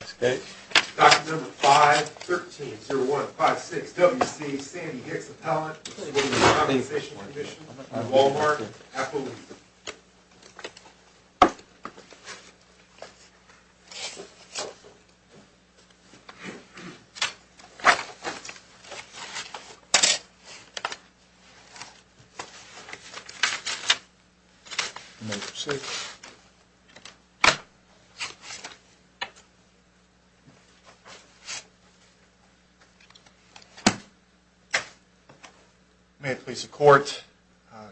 Dr. No. 5, 13-0156 W.C. Sandy Hicks Appellant, Workers' Compensation Commission, Walmart, Appalooza May it please the Court,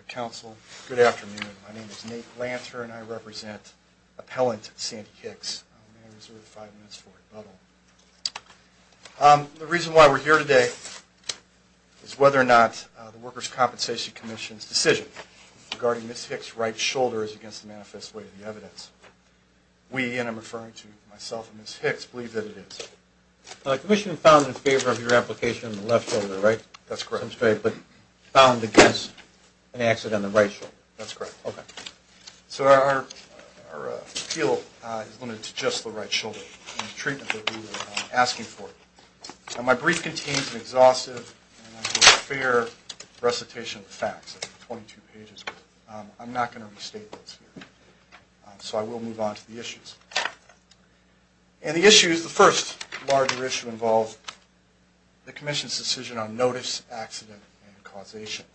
Counsel, good afternoon. My name is Nate Lancer and I represent Appellant Sandy Hicks. May I reserve five minutes for rebuttal? The reason why we're here today is whether or not the Workers' Compensation Commission's decision regarding Ms. Hicks' right shoulder is against the manifest way of the evidence. We, and I'm referring to myself and Ms. Hicks, believe that it is. The Commission found in favor of your application on the left shoulder, right? That's correct. But found against an accident on the right shoulder. That's correct. Okay. So our appeal is limited to just the right shoulder and the treatment that we were asking for. My brief contains an exhaustive and fair recitation of the facts, 22 pages. I'm not going to restate this here. So I will move on to the issues. And the issues, the first larger issue involves the Commission's decision on notice, accident, and causation.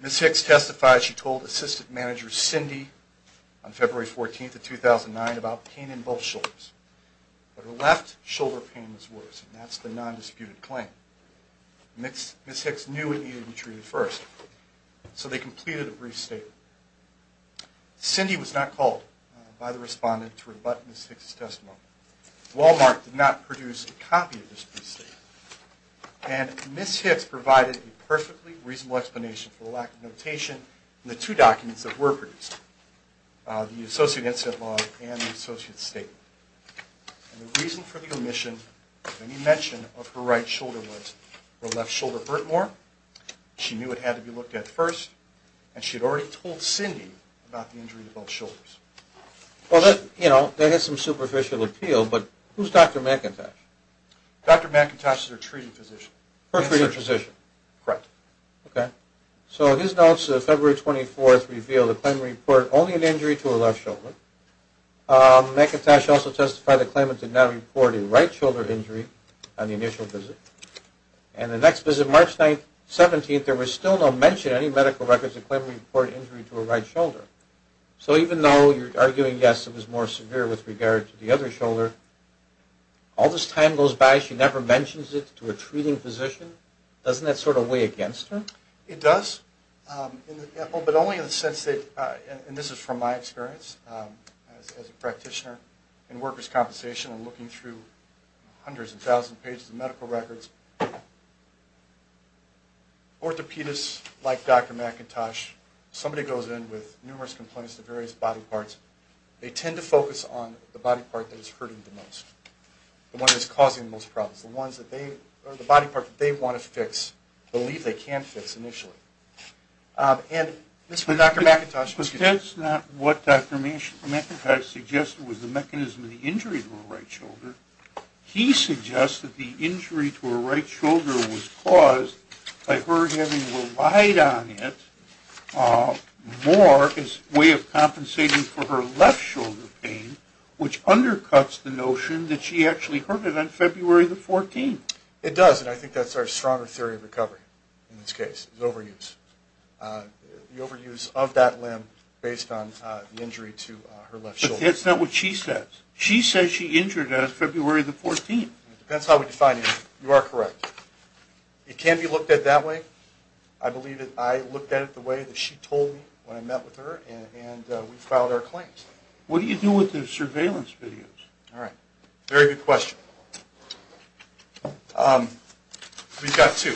Ms. Hicks testified, she told Assistant Manager Cindy on February 14th of 2009 about pain in both shoulders. But her left shoulder pain was worse, and that's the non-disputed claim. Ms. Hicks knew it needed to be treated first. So they completed a brief statement. Cindy was not called by the respondent to rebut Ms. Hicks' testimony. Walmart did not produce a copy of this brief statement. And Ms. Hicks provided a perfectly reasonable explanation for the lack of notation in the two documents that were produced, the associate incident log and the associate statement. And the reason for the omission of any mention of her right shoulder was her left shoulder hurt more. She knew it had to be looked at first. And she had already told Cindy about the injury to both shoulders. Well, that has some superficial appeal, but who's Dr. McIntosh? Dr. McIntosh is her treating physician. Her treating physician. Correct. Okay. So his notes of February 24th reveal the claimant reported only an injury to her left shoulder. McIntosh also testified the claimant did not report a right shoulder injury on the initial visit. And the next visit, March 17th, there was still no mention in any medical records that the claimant reported an injury to her right shoulder. So even though you're arguing, yes, it was more severe with regard to the other shoulder, all this time goes by. She never mentions it to her treating physician. Doesn't that sort of weigh against her? It does. But only in the sense that, and this is from my experience as a practitioner in workers' compensation and looking through hundreds of thousands of pages of medical records, orthopedists like Dr. McIntosh, somebody goes in with numerous complaints to various body parts, they tend to focus on the body part that is hurting the most, the one that is causing the most problems, the ones that they, or the body parts that they want to fix, believe they can't fix initially. And this is what Dr. McIntosh was... But that's not what Dr. McIntosh suggested was the mechanism of the injury to her right shoulder. He suggested the injury to her right shoulder was caused by her having relied on it more as a way of compensating for her left shoulder pain, which undercuts the notion that she actually hurt it on February the 14th. It does, and I think that's our stronger theory of recovery in this case, is overuse. The overuse of that limb based on the injury to her left shoulder. But that's not what she says. She says she injured it on February the 14th. It depends how we define it. You are correct. It can be looked at that way. I believe that I looked at it the way that she told me when I met with her, and we filed our claims. What do you do with the surveillance videos? All right. Very good question. We've got two.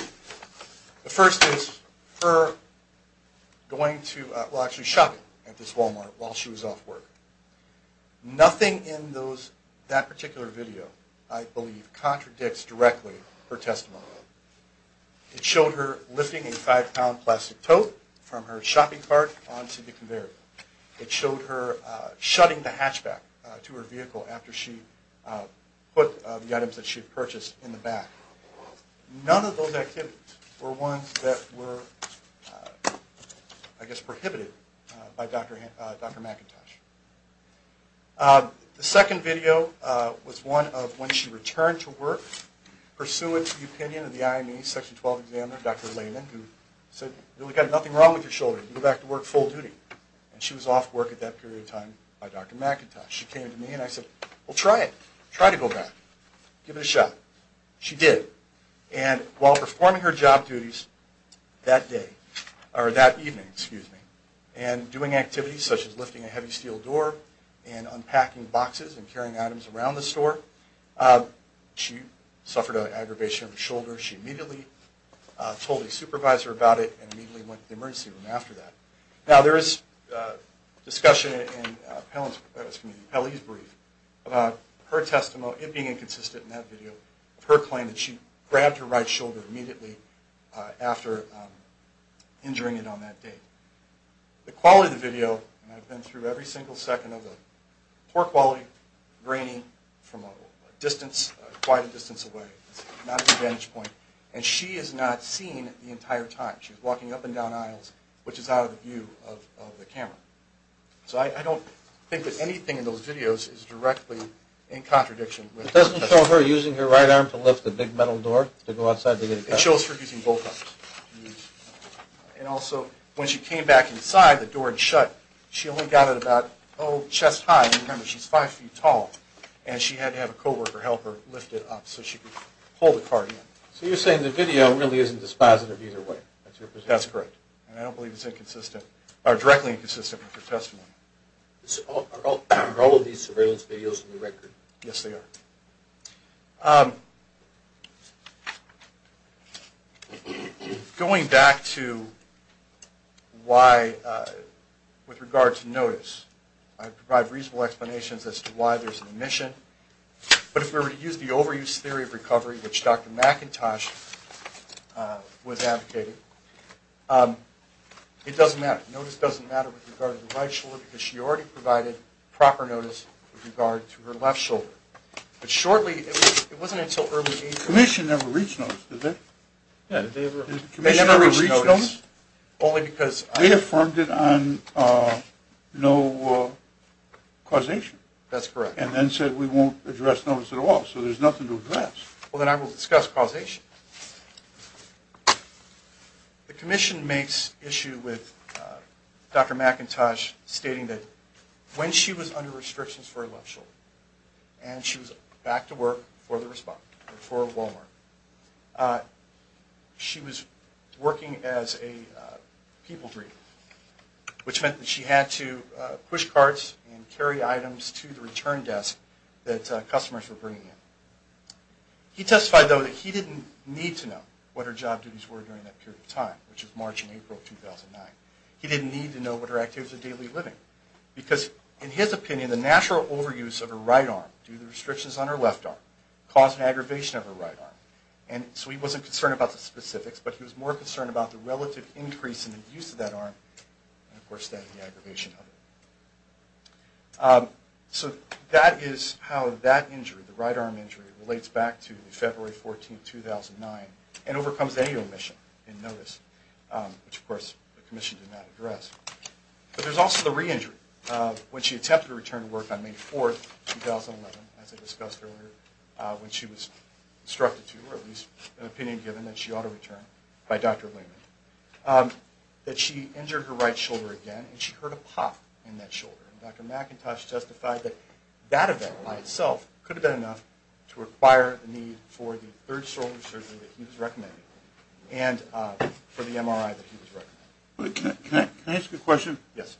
The first is her going to, well, actually shopping at this Walmart while she was off work. Nothing in that particular video, I believe, contradicts directly her testimony. It showed her lifting a five pound plastic tote from her shopping cart onto the conveyor. It showed her shutting the hatchback to her vehicle after she put the items that she had purchased in the back. None of those activities were ones that were, I guess, prohibited by Dr. McIntosh. The second video was one of when she returned to work pursuant to the opinion of the IME Section 12 examiner, Dr. Lehman, who said you've got nothing wrong with your shoulder. You can go back to work full duty. And she was off work at that period of time by Dr. McIntosh. She came to me and I said, well, try it. Try to go back. Give it a shot. She did. And while performing her job duties that day, or that evening, excuse me, and doing activities such as lifting a heavy steel door and unpacking boxes and carrying items around the store, she suffered an aggravation of her shoulder. She immediately told a supervisor about it and immediately went to the emergency room after that. Now, there is discussion in Pelley's brief about her testimony, it being inconsistent in that video, that she grabbed her right shoulder immediately after injuring it on that day. The quality of the video, and I've been through every single second of it, poor quality, grainy from quite a distance away. It's not at the vantage point. And she is not seen the entire time. She's walking up and down aisles, which is out of the view of the camera. So I don't think that anything in those videos is directly in contradiction. It doesn't show her using her right arm to lift a big metal door to go outside? It shows her using both arms. And also, when she came back inside, the door had shut. She only got it about, oh, chest high. Remember, she's five feet tall. And she had to have a co-worker help her lift it up so she could pull the cart in. So you're saying the video really isn't dispositive either way? That's correct. And I don't believe it's inconsistent, or directly inconsistent with her testimony. Are all of these surveillance videos on the record? Yes, they are. Going back to why with regard to notice, I provide reasonable explanations as to why there's an omission. But if we were to use the overuse theory of recovery, which Dr. McIntosh was advocating, it doesn't matter. Notice doesn't matter with regard to the right shoulder because she already provided proper notice with regard to her left shoulder. But shortly, it wasn't until early April. Commission never reached notice, did they? Yeah, did they ever? Commission never reached notice. They never reached notice? Only because. They affirmed it on no causation. That's correct. And then said we won't address notice at all, so there's nothing to address. Well, then I will discuss causation. The Commission makes issue with Dr. McIntosh stating that when she was under restrictions for her left shoulder and she was back to work for Walmart, she was working as a people breeder, which meant that she had to push carts and carry items to the return desk that customers were bringing in. He testified, though, that he didn't need to know what her job duties were during that period of time, which was March and April of 2009. He didn't need to know what her activities of daily living were because, in his opinion, the natural overuse of her right arm due to the restrictions on her left arm caused an aggravation of her right arm. And so he wasn't concerned about the specifics, but he was more concerned about the relative increase in the use of that arm and, of course, that and the aggravation of it. So that is how that injury, the right arm injury, relates back to February 14, 2009 and overcomes any omission in notice, which, of course, the Commission did not address. But there's also the re-injury. When she attempted to return to work on May 4, 2011, as I discussed earlier, when she was instructed to, or at least an opinion given that she ought to return by Dr. Lehman, that she injured her right shoulder again and she heard a pop in that shoulder. And Dr. McIntosh testified that that event by itself could have been enough to require the need for the third shoulder surgery that he was recommending and for the MRI that he was recommending. Can I ask a question? Yes.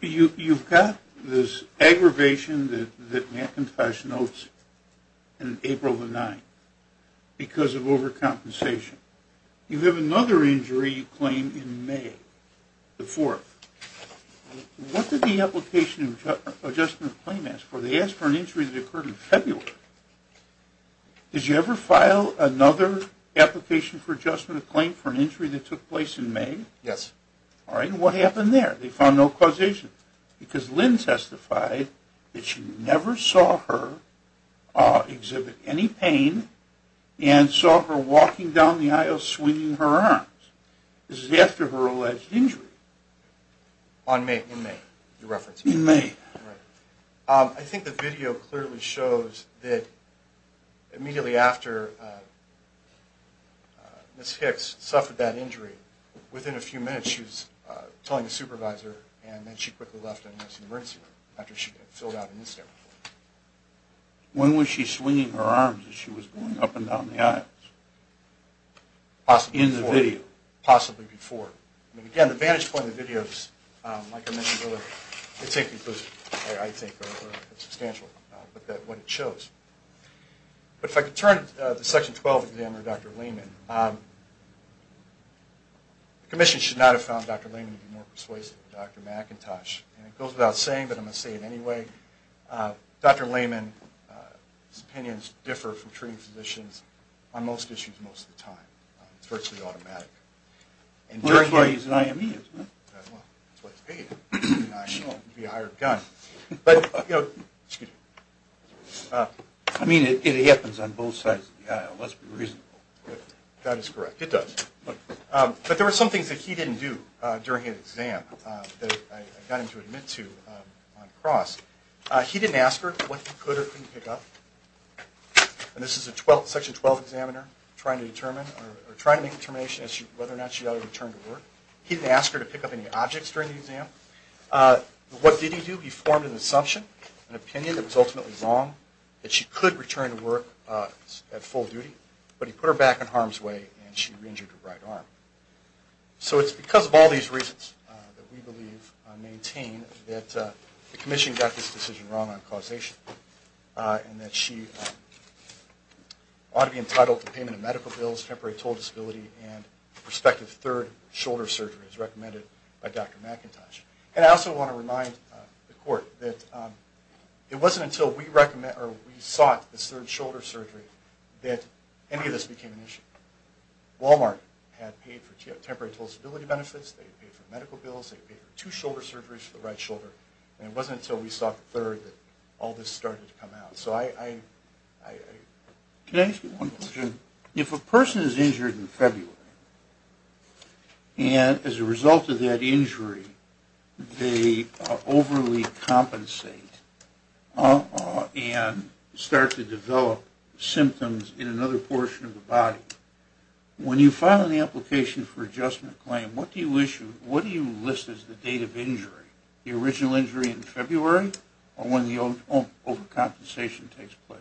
You've got this aggravation that McIntosh notes in April of 2009 because of overcompensation. You have another injury you claim in May, the fourth. What did the application of adjustment of claim ask for? They asked for an injury that occurred in February. Did you ever file another application for adjustment of claim for an injury that took place in May? Yes. All right. And what happened there? They found no causation because Lynn testified that she never saw her exhibit any pain and saw her walking down the aisle swinging her arms. This is after her alleged injury. In May. In May. In May. All right. I think the video clearly shows that immediately after Ms. Hicks suffered that injury, within a few minutes she was telling a supervisor and then she quickly left and went to the emergency room after she had filled out an incident report. When was she swinging her arms as she was going up and down the aisles? Possibly before. In the video. Possibly before. And, again, the vantage point of the video is, like I mentioned earlier, it's inconclusive, I think, or substantial, but that's what it shows. But if I could turn to the Section 12 examiner, Dr. Lehman, the commission should not have found Dr. Lehman to be more persuasive than Dr. McIntosh. And it goes without saying, but I'm going to say it anyway, Dr. Lehman's opinions differ from treating physicians on most issues most of the time. It's virtually automatic. Well, that's why he's an I.M.E., isn't it? Well, that's why he's paid. He's an I.M.E. He could be a higher gun. But, you know, excuse me. I mean, it happens on both sides. It must be reasonable. That is correct. It does. But there were some things that he didn't do during his exam that I got him to admit to on the cross. He didn't ask her what he could or couldn't pick up. And this is a Section 12 examiner trying to make a determination as to whether or not she ought to return to work. He didn't ask her to pick up any objects during the exam. What did he do? He formed an assumption, an opinion that was ultimately wrong, that she could return to work at full duty, but he put her back in harm's way and she re-injured her right arm. So it's because of all these reasons that we believe and maintain that the Commission got this decision wrong on causation and that she ought to be entitled to payment of medical bills, temporary total disability, and prospective third shoulder surgery as recommended by Dr. McIntosh. And I also want to remind the Court that it wasn't until we sought this third shoulder surgery that any of this became an issue. Walmart had paid for temporary total disability benefits, they had paid for medical bills, they had paid for two shoulder surgeries for the right shoulder, and it wasn't until we sought the third that all this started to come out. So I... Can I ask you one question? If a person is injured in February and as a result of that injury they overly compensate and start to develop symptoms in another portion of the body, when you file an application for adjustment claim, what do you list as the date of injury? The original injury in February or when the overcompensation takes place?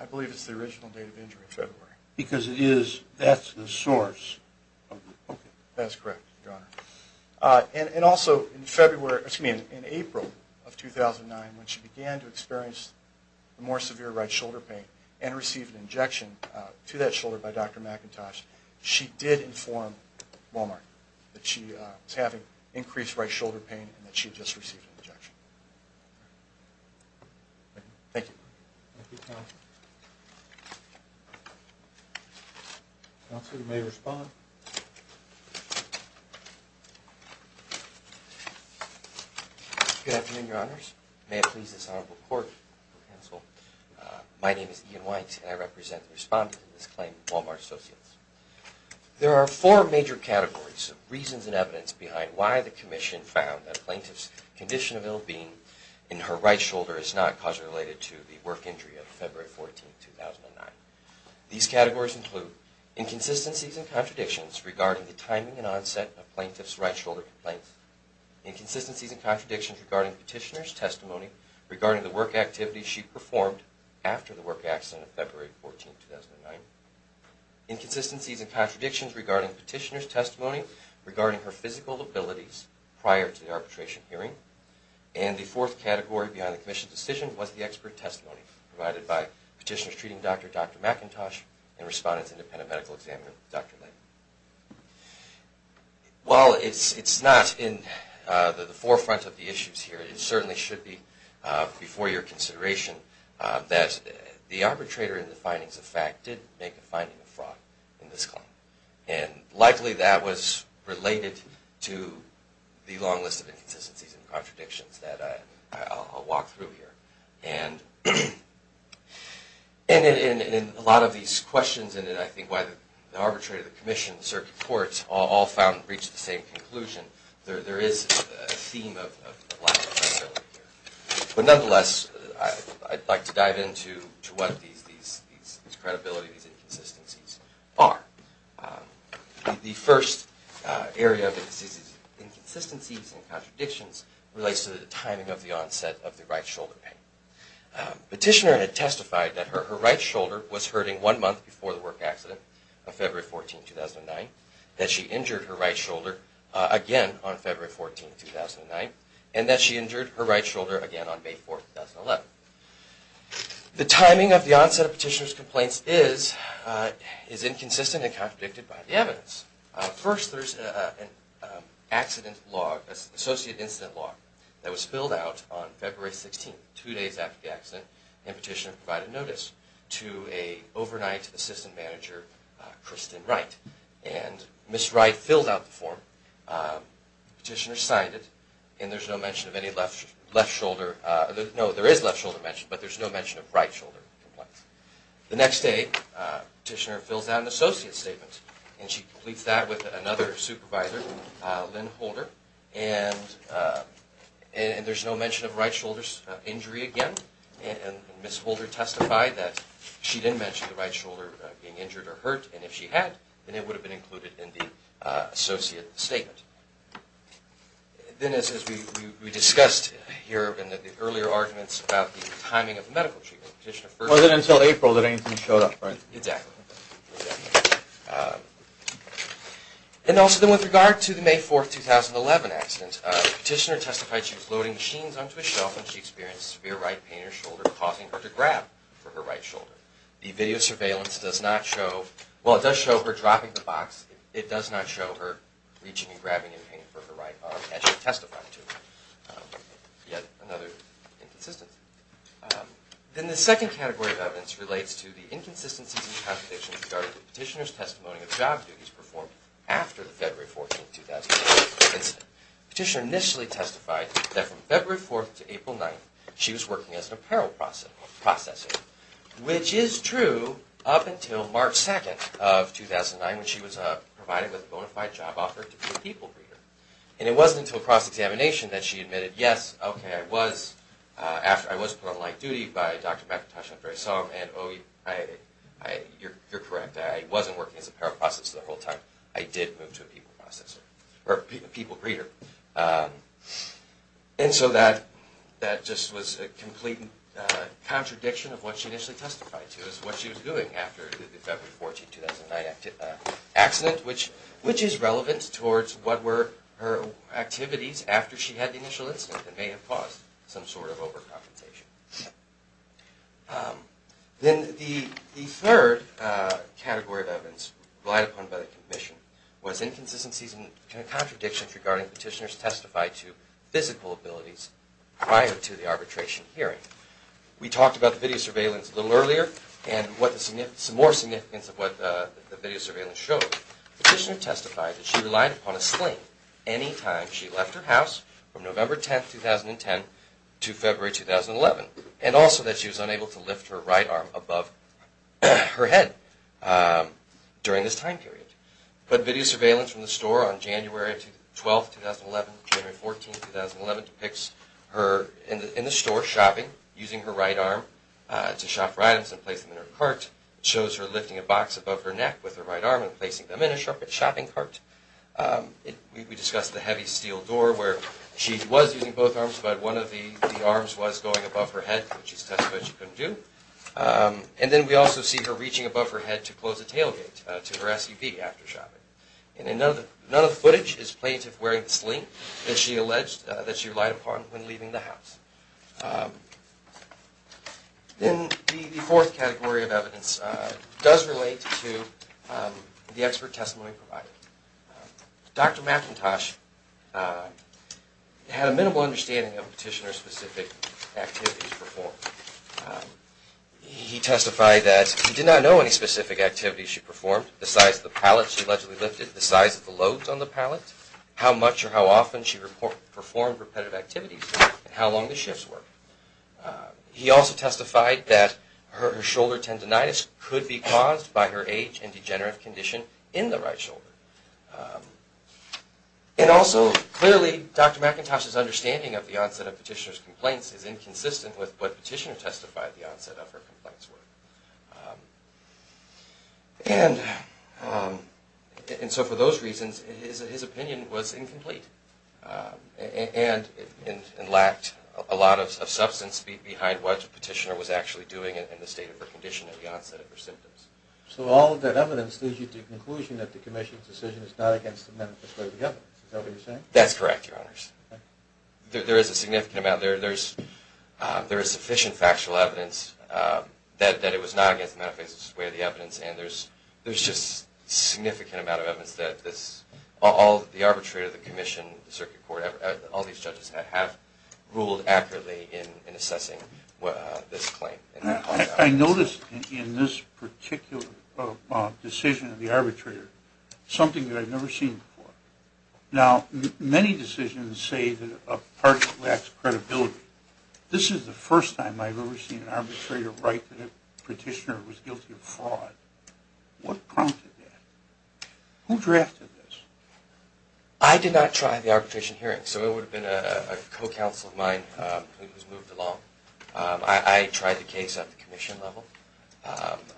I believe it's the original date of injury in February. Because that's the source. That's correct, Your Honor. And also in April of 2009 when she began to experience more severe right shoulder pain and received an injection to that shoulder by Dr. McIntosh, she did inform Walmart that she was having increased right shoulder pain and that she had just received an injection. Thank you. Thank you, counsel. Counsel, you may respond. Good afternoon, Your Honors. May it please this honorable court, counsel. My name is Ian White and I represent the respondents in this claim, Walmart Associates. There are four major categories of reasons and evidence behind why the commission found that a plaintiff's condition of ill-being in her right shoulder is not causally related to the work injury of February 14, 2009. These categories include inconsistencies and contradictions regarding the timing and onset of plaintiff's right shoulder complaints, inconsistencies and contradictions regarding petitioner's testimony regarding the work activities she performed after the work accident of February 14, 2009, inconsistencies and contradictions regarding petitioner's testimony regarding her physical abilities prior to the arbitration hearing, and the fourth category behind the commission's decision was the expert testimony provided by petitioner's treating doctor, Dr. McIntosh, and respondent's independent medical examiner, Dr. Lane. Well, it's not in the forefront of the issues here. It certainly should be before your consideration that the arbitrator in the findings of fact did make a finding of fraud in this claim. And likely that was related to the long list of inconsistencies and contradictions that I'll walk through here. And in a lot of these questions, and I think why the arbitrator, the commission, the circuit courts all found and reached the same conclusion, there is a theme of lack of credibility here. But nonetheless, I'd like to dive into what these credibilities and inconsistencies are. The first area of inconsistencies and contradictions relates to the timing of the onset of the right shoulder pain. Petitioner had testified that her right shoulder was hurting one month before the work accident of February 14, 2009, that she injured her right shoulder again on February 14, 2009, and that she injured her right shoulder again on May 4, 2011. The timing of the onset of petitioner's complaints is inconsistent and contradicted by the evidence. First, there's an accident log, an associate incident log, and petitioner provided notice to an overnight assistant manager, Kristen Wright. And Ms. Wright filled out the form, petitioner signed it, and there's no mention of any left shoulder, no, there is left shoulder mention, but there's no mention of right shoulder complaints. The next day, petitioner fills out an associate statement, and she completes that with another supervisor, Lynn Holder, and there's no mention of right shoulder injury again, and Ms. Holder testified that she didn't mention the right shoulder being injured or hurt, and if she had, then it would have been included in the associate statement. Then, as we discussed here, there have been earlier arguments about the timing of the medical treatment. It wasn't until April that anything showed up, right? Exactly. And also then with regard to the May 4, 2011 accident, petitioner testified she was loading machines onto a shelf when she experienced severe right pain in her shoulder causing her to grab for her right shoulder. The video surveillance does not show, well, it does show her dropping the box, it does not show her reaching and grabbing in pain for her right arm as she testified to it. Yet another inconsistency. Then the second category of evidence relates to the inconsistencies and contradictions regarding the petitioner's testimony of job duties performed after the February 14, 2011 incident. Petitioner initially testified that from February 4 to April 9, she was working as an apparel processor, which is true up until March 2 of 2009 when she was provided with a bona fide job offer to be a people breeder. And it wasn't until cross-examination that she admitted, yes, okay, I was put on light duty by Dr. McIntosh and Andreson, and oh, you're correct, I wasn't working as an apparel processor the whole time. I did move to a people processor, or a people breeder. And so that just was a complete contradiction of what she initially testified to as to what she was doing after the February 14, 2009 accident, which is relevant towards what were her activities after she had the initial incident that may have caused some sort of over-confrontation. Then the third category of evidence relied upon by the commission was inconsistencies and contradictions regarding petitioner's testified to physical abilities prior to the arbitration hearing. We talked about the video surveillance a little earlier and some more significance of what the video surveillance showed. Petitioner testified that she relied upon a sling any time she left her house from November 10, 2010 to February 2011, and also that she was unable to lift her right arm above her head during this time period. But video surveillance from the store on January 12, 2011 and January 14, 2011 depicts her in the store shopping, using her right arm to shop for items and place them in her cart. It shows her lifting a box above her neck with her right arm and placing them in a shopping cart. We discussed the heavy steel door where she was using both arms, but one of the arms was going above her head, which she testified she couldn't do. And then we also see her reaching above her head to close a tailgate to her SUV after shopping. And then none of the footage is plaintiff wearing the sling that she alleged, that she relied upon when leaving the house. Then the fourth category of evidence does relate to the expert testimony provided. Dr. McIntosh had a minimal understanding of Petitioner's specific activities performed. He testified that he did not know any specific activities she performed, the size of the pallets she allegedly lifted, the size of the loads on the pallets, how much or how often she performed repetitive activities, and how long the shifts were. He also testified that her shoulder tendinitis could be caused by her age and degenerative condition in the right shoulder. And also, clearly, Dr. McIntosh's understanding of the onset of Petitioner's complaints is inconsistent with what Petitioner testified the onset of her complaints were. And so for those reasons, his opinion was incomplete, and lacked a lot of substance behind what Petitioner was actually doing in the state of her condition at the onset of her symptoms. So all of that evidence leads you to the conclusion that the Commission's decision is not against the manifesto of the evidence, is that what you're saying? That's correct, Your Honors. There is a significant amount. There is sufficient factual evidence that it was not against the manifesto's way of the evidence, and there's just a significant amount of evidence that all the arbitrator, the Commission, the Circuit Court, all these judges have ruled accurately in assessing this claim. I noticed in this particular decision of the arbitrator something that I've never seen before. Now, many decisions say that a party lacks credibility. This is the first time I've ever seen an arbitrator write that a Petitioner was guilty of fraud. What prompted that? Who drafted this? I did not try the arbitration hearing, so it would have been a co-counsel of mine who was moved along. I tried the case at the Commission level.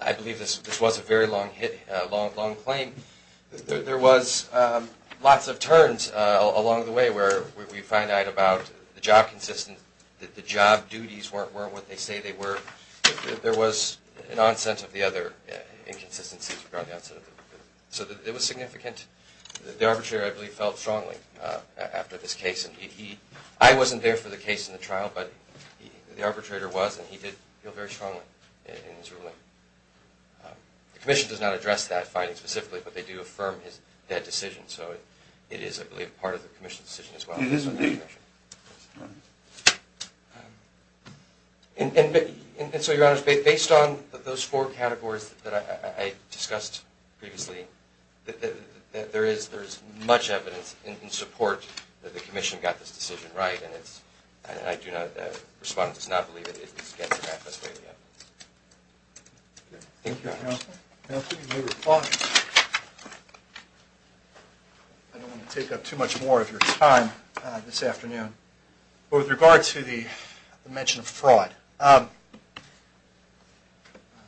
I believe this was a very long claim. There was lots of turns along the way where we find out about the job consistency, that the job duties weren't what they say they were, that there was an onset of the other inconsistencies. So it was significant. The arbitrator, I believe, felt strongly after this case. I wasn't there for the case in the trial, but the arbitrator was, and he did feel very strongly in his ruling. The Commission does not address that finding specifically, but they do affirm that decision. So it is, I believe, part of the Commission's decision as well. And so, Your Honor, based on those four categories that I discussed previously, there is much evidence in support that the Commission got this decision right. And I do not, the Respondent does not believe that it is getting it right this way yet. Thank you, Your Honor. Counsel, you may reply. I don't want to take up too much more of your time this afternoon. But with regard to the mention of fraud,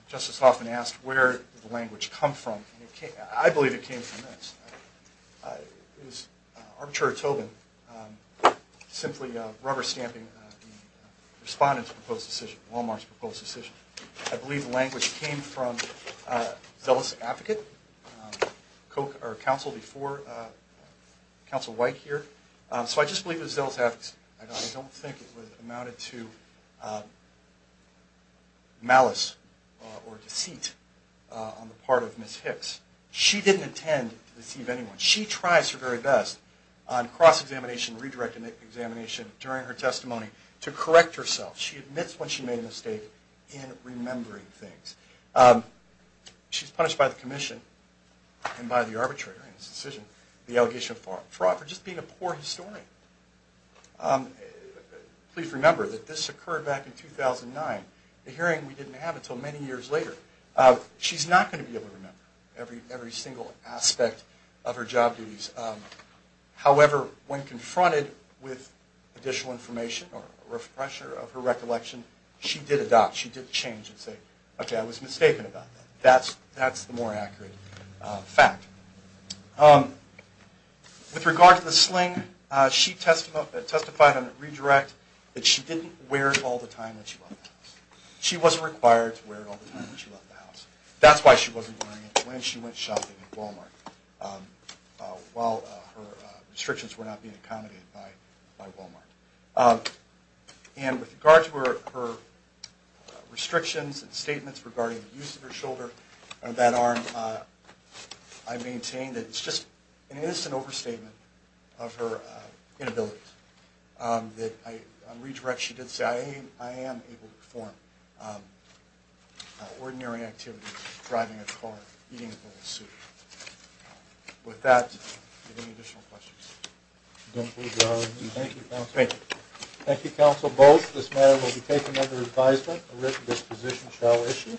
Justice Hoffman asked where did the language come from. I believe it came from this. It was Arbitrator Tobin simply rubber stamping the Respondent's proposed decision, Walmart's proposed decision. I believe the language came from Zealous Advocate, counsel before Counsel White here. So I just believe it was Zealous Advocate. I don't think it amounted to malice or deceit on the part of Ms. Hicks. She didn't intend to deceive anyone. She tries her very best on cross-examination, redirect examination during her testimony to correct herself. She admits when she made a mistake in remembering things. She's punished by the Commission and by the Arbitrator in this decision, the allegation of fraud, for just being a poor historian. Please remember that this occurred back in 2009, a hearing we didn't have until many years later. She's not going to be able to remember every single aspect of her job duties. However, when confronted with additional information or a refresher of her recollection, she did adopt. She did change and say, okay, I was mistaken about that. That's the more accurate fact. With regard to the sling, she testified on a redirect that she didn't wear it all the time when she went to the office. She wasn't required to wear it all the time when she left the house. That's why she wasn't wearing it when she went shopping at Wal-Mart, while her restrictions were not being accommodated by Wal-Mart. And with regard to her restrictions and statements regarding the use of her shoulder and that arm, I maintain that it's just an innocent overstatement of her inability. On redirect, she did say, I am able to perform ordinary activities, driving a car, eating a bowl of soup. With that, are there any additional questions? Thank you, Counsel Boles. This matter will be taken under advisement. A written disposition shall issue.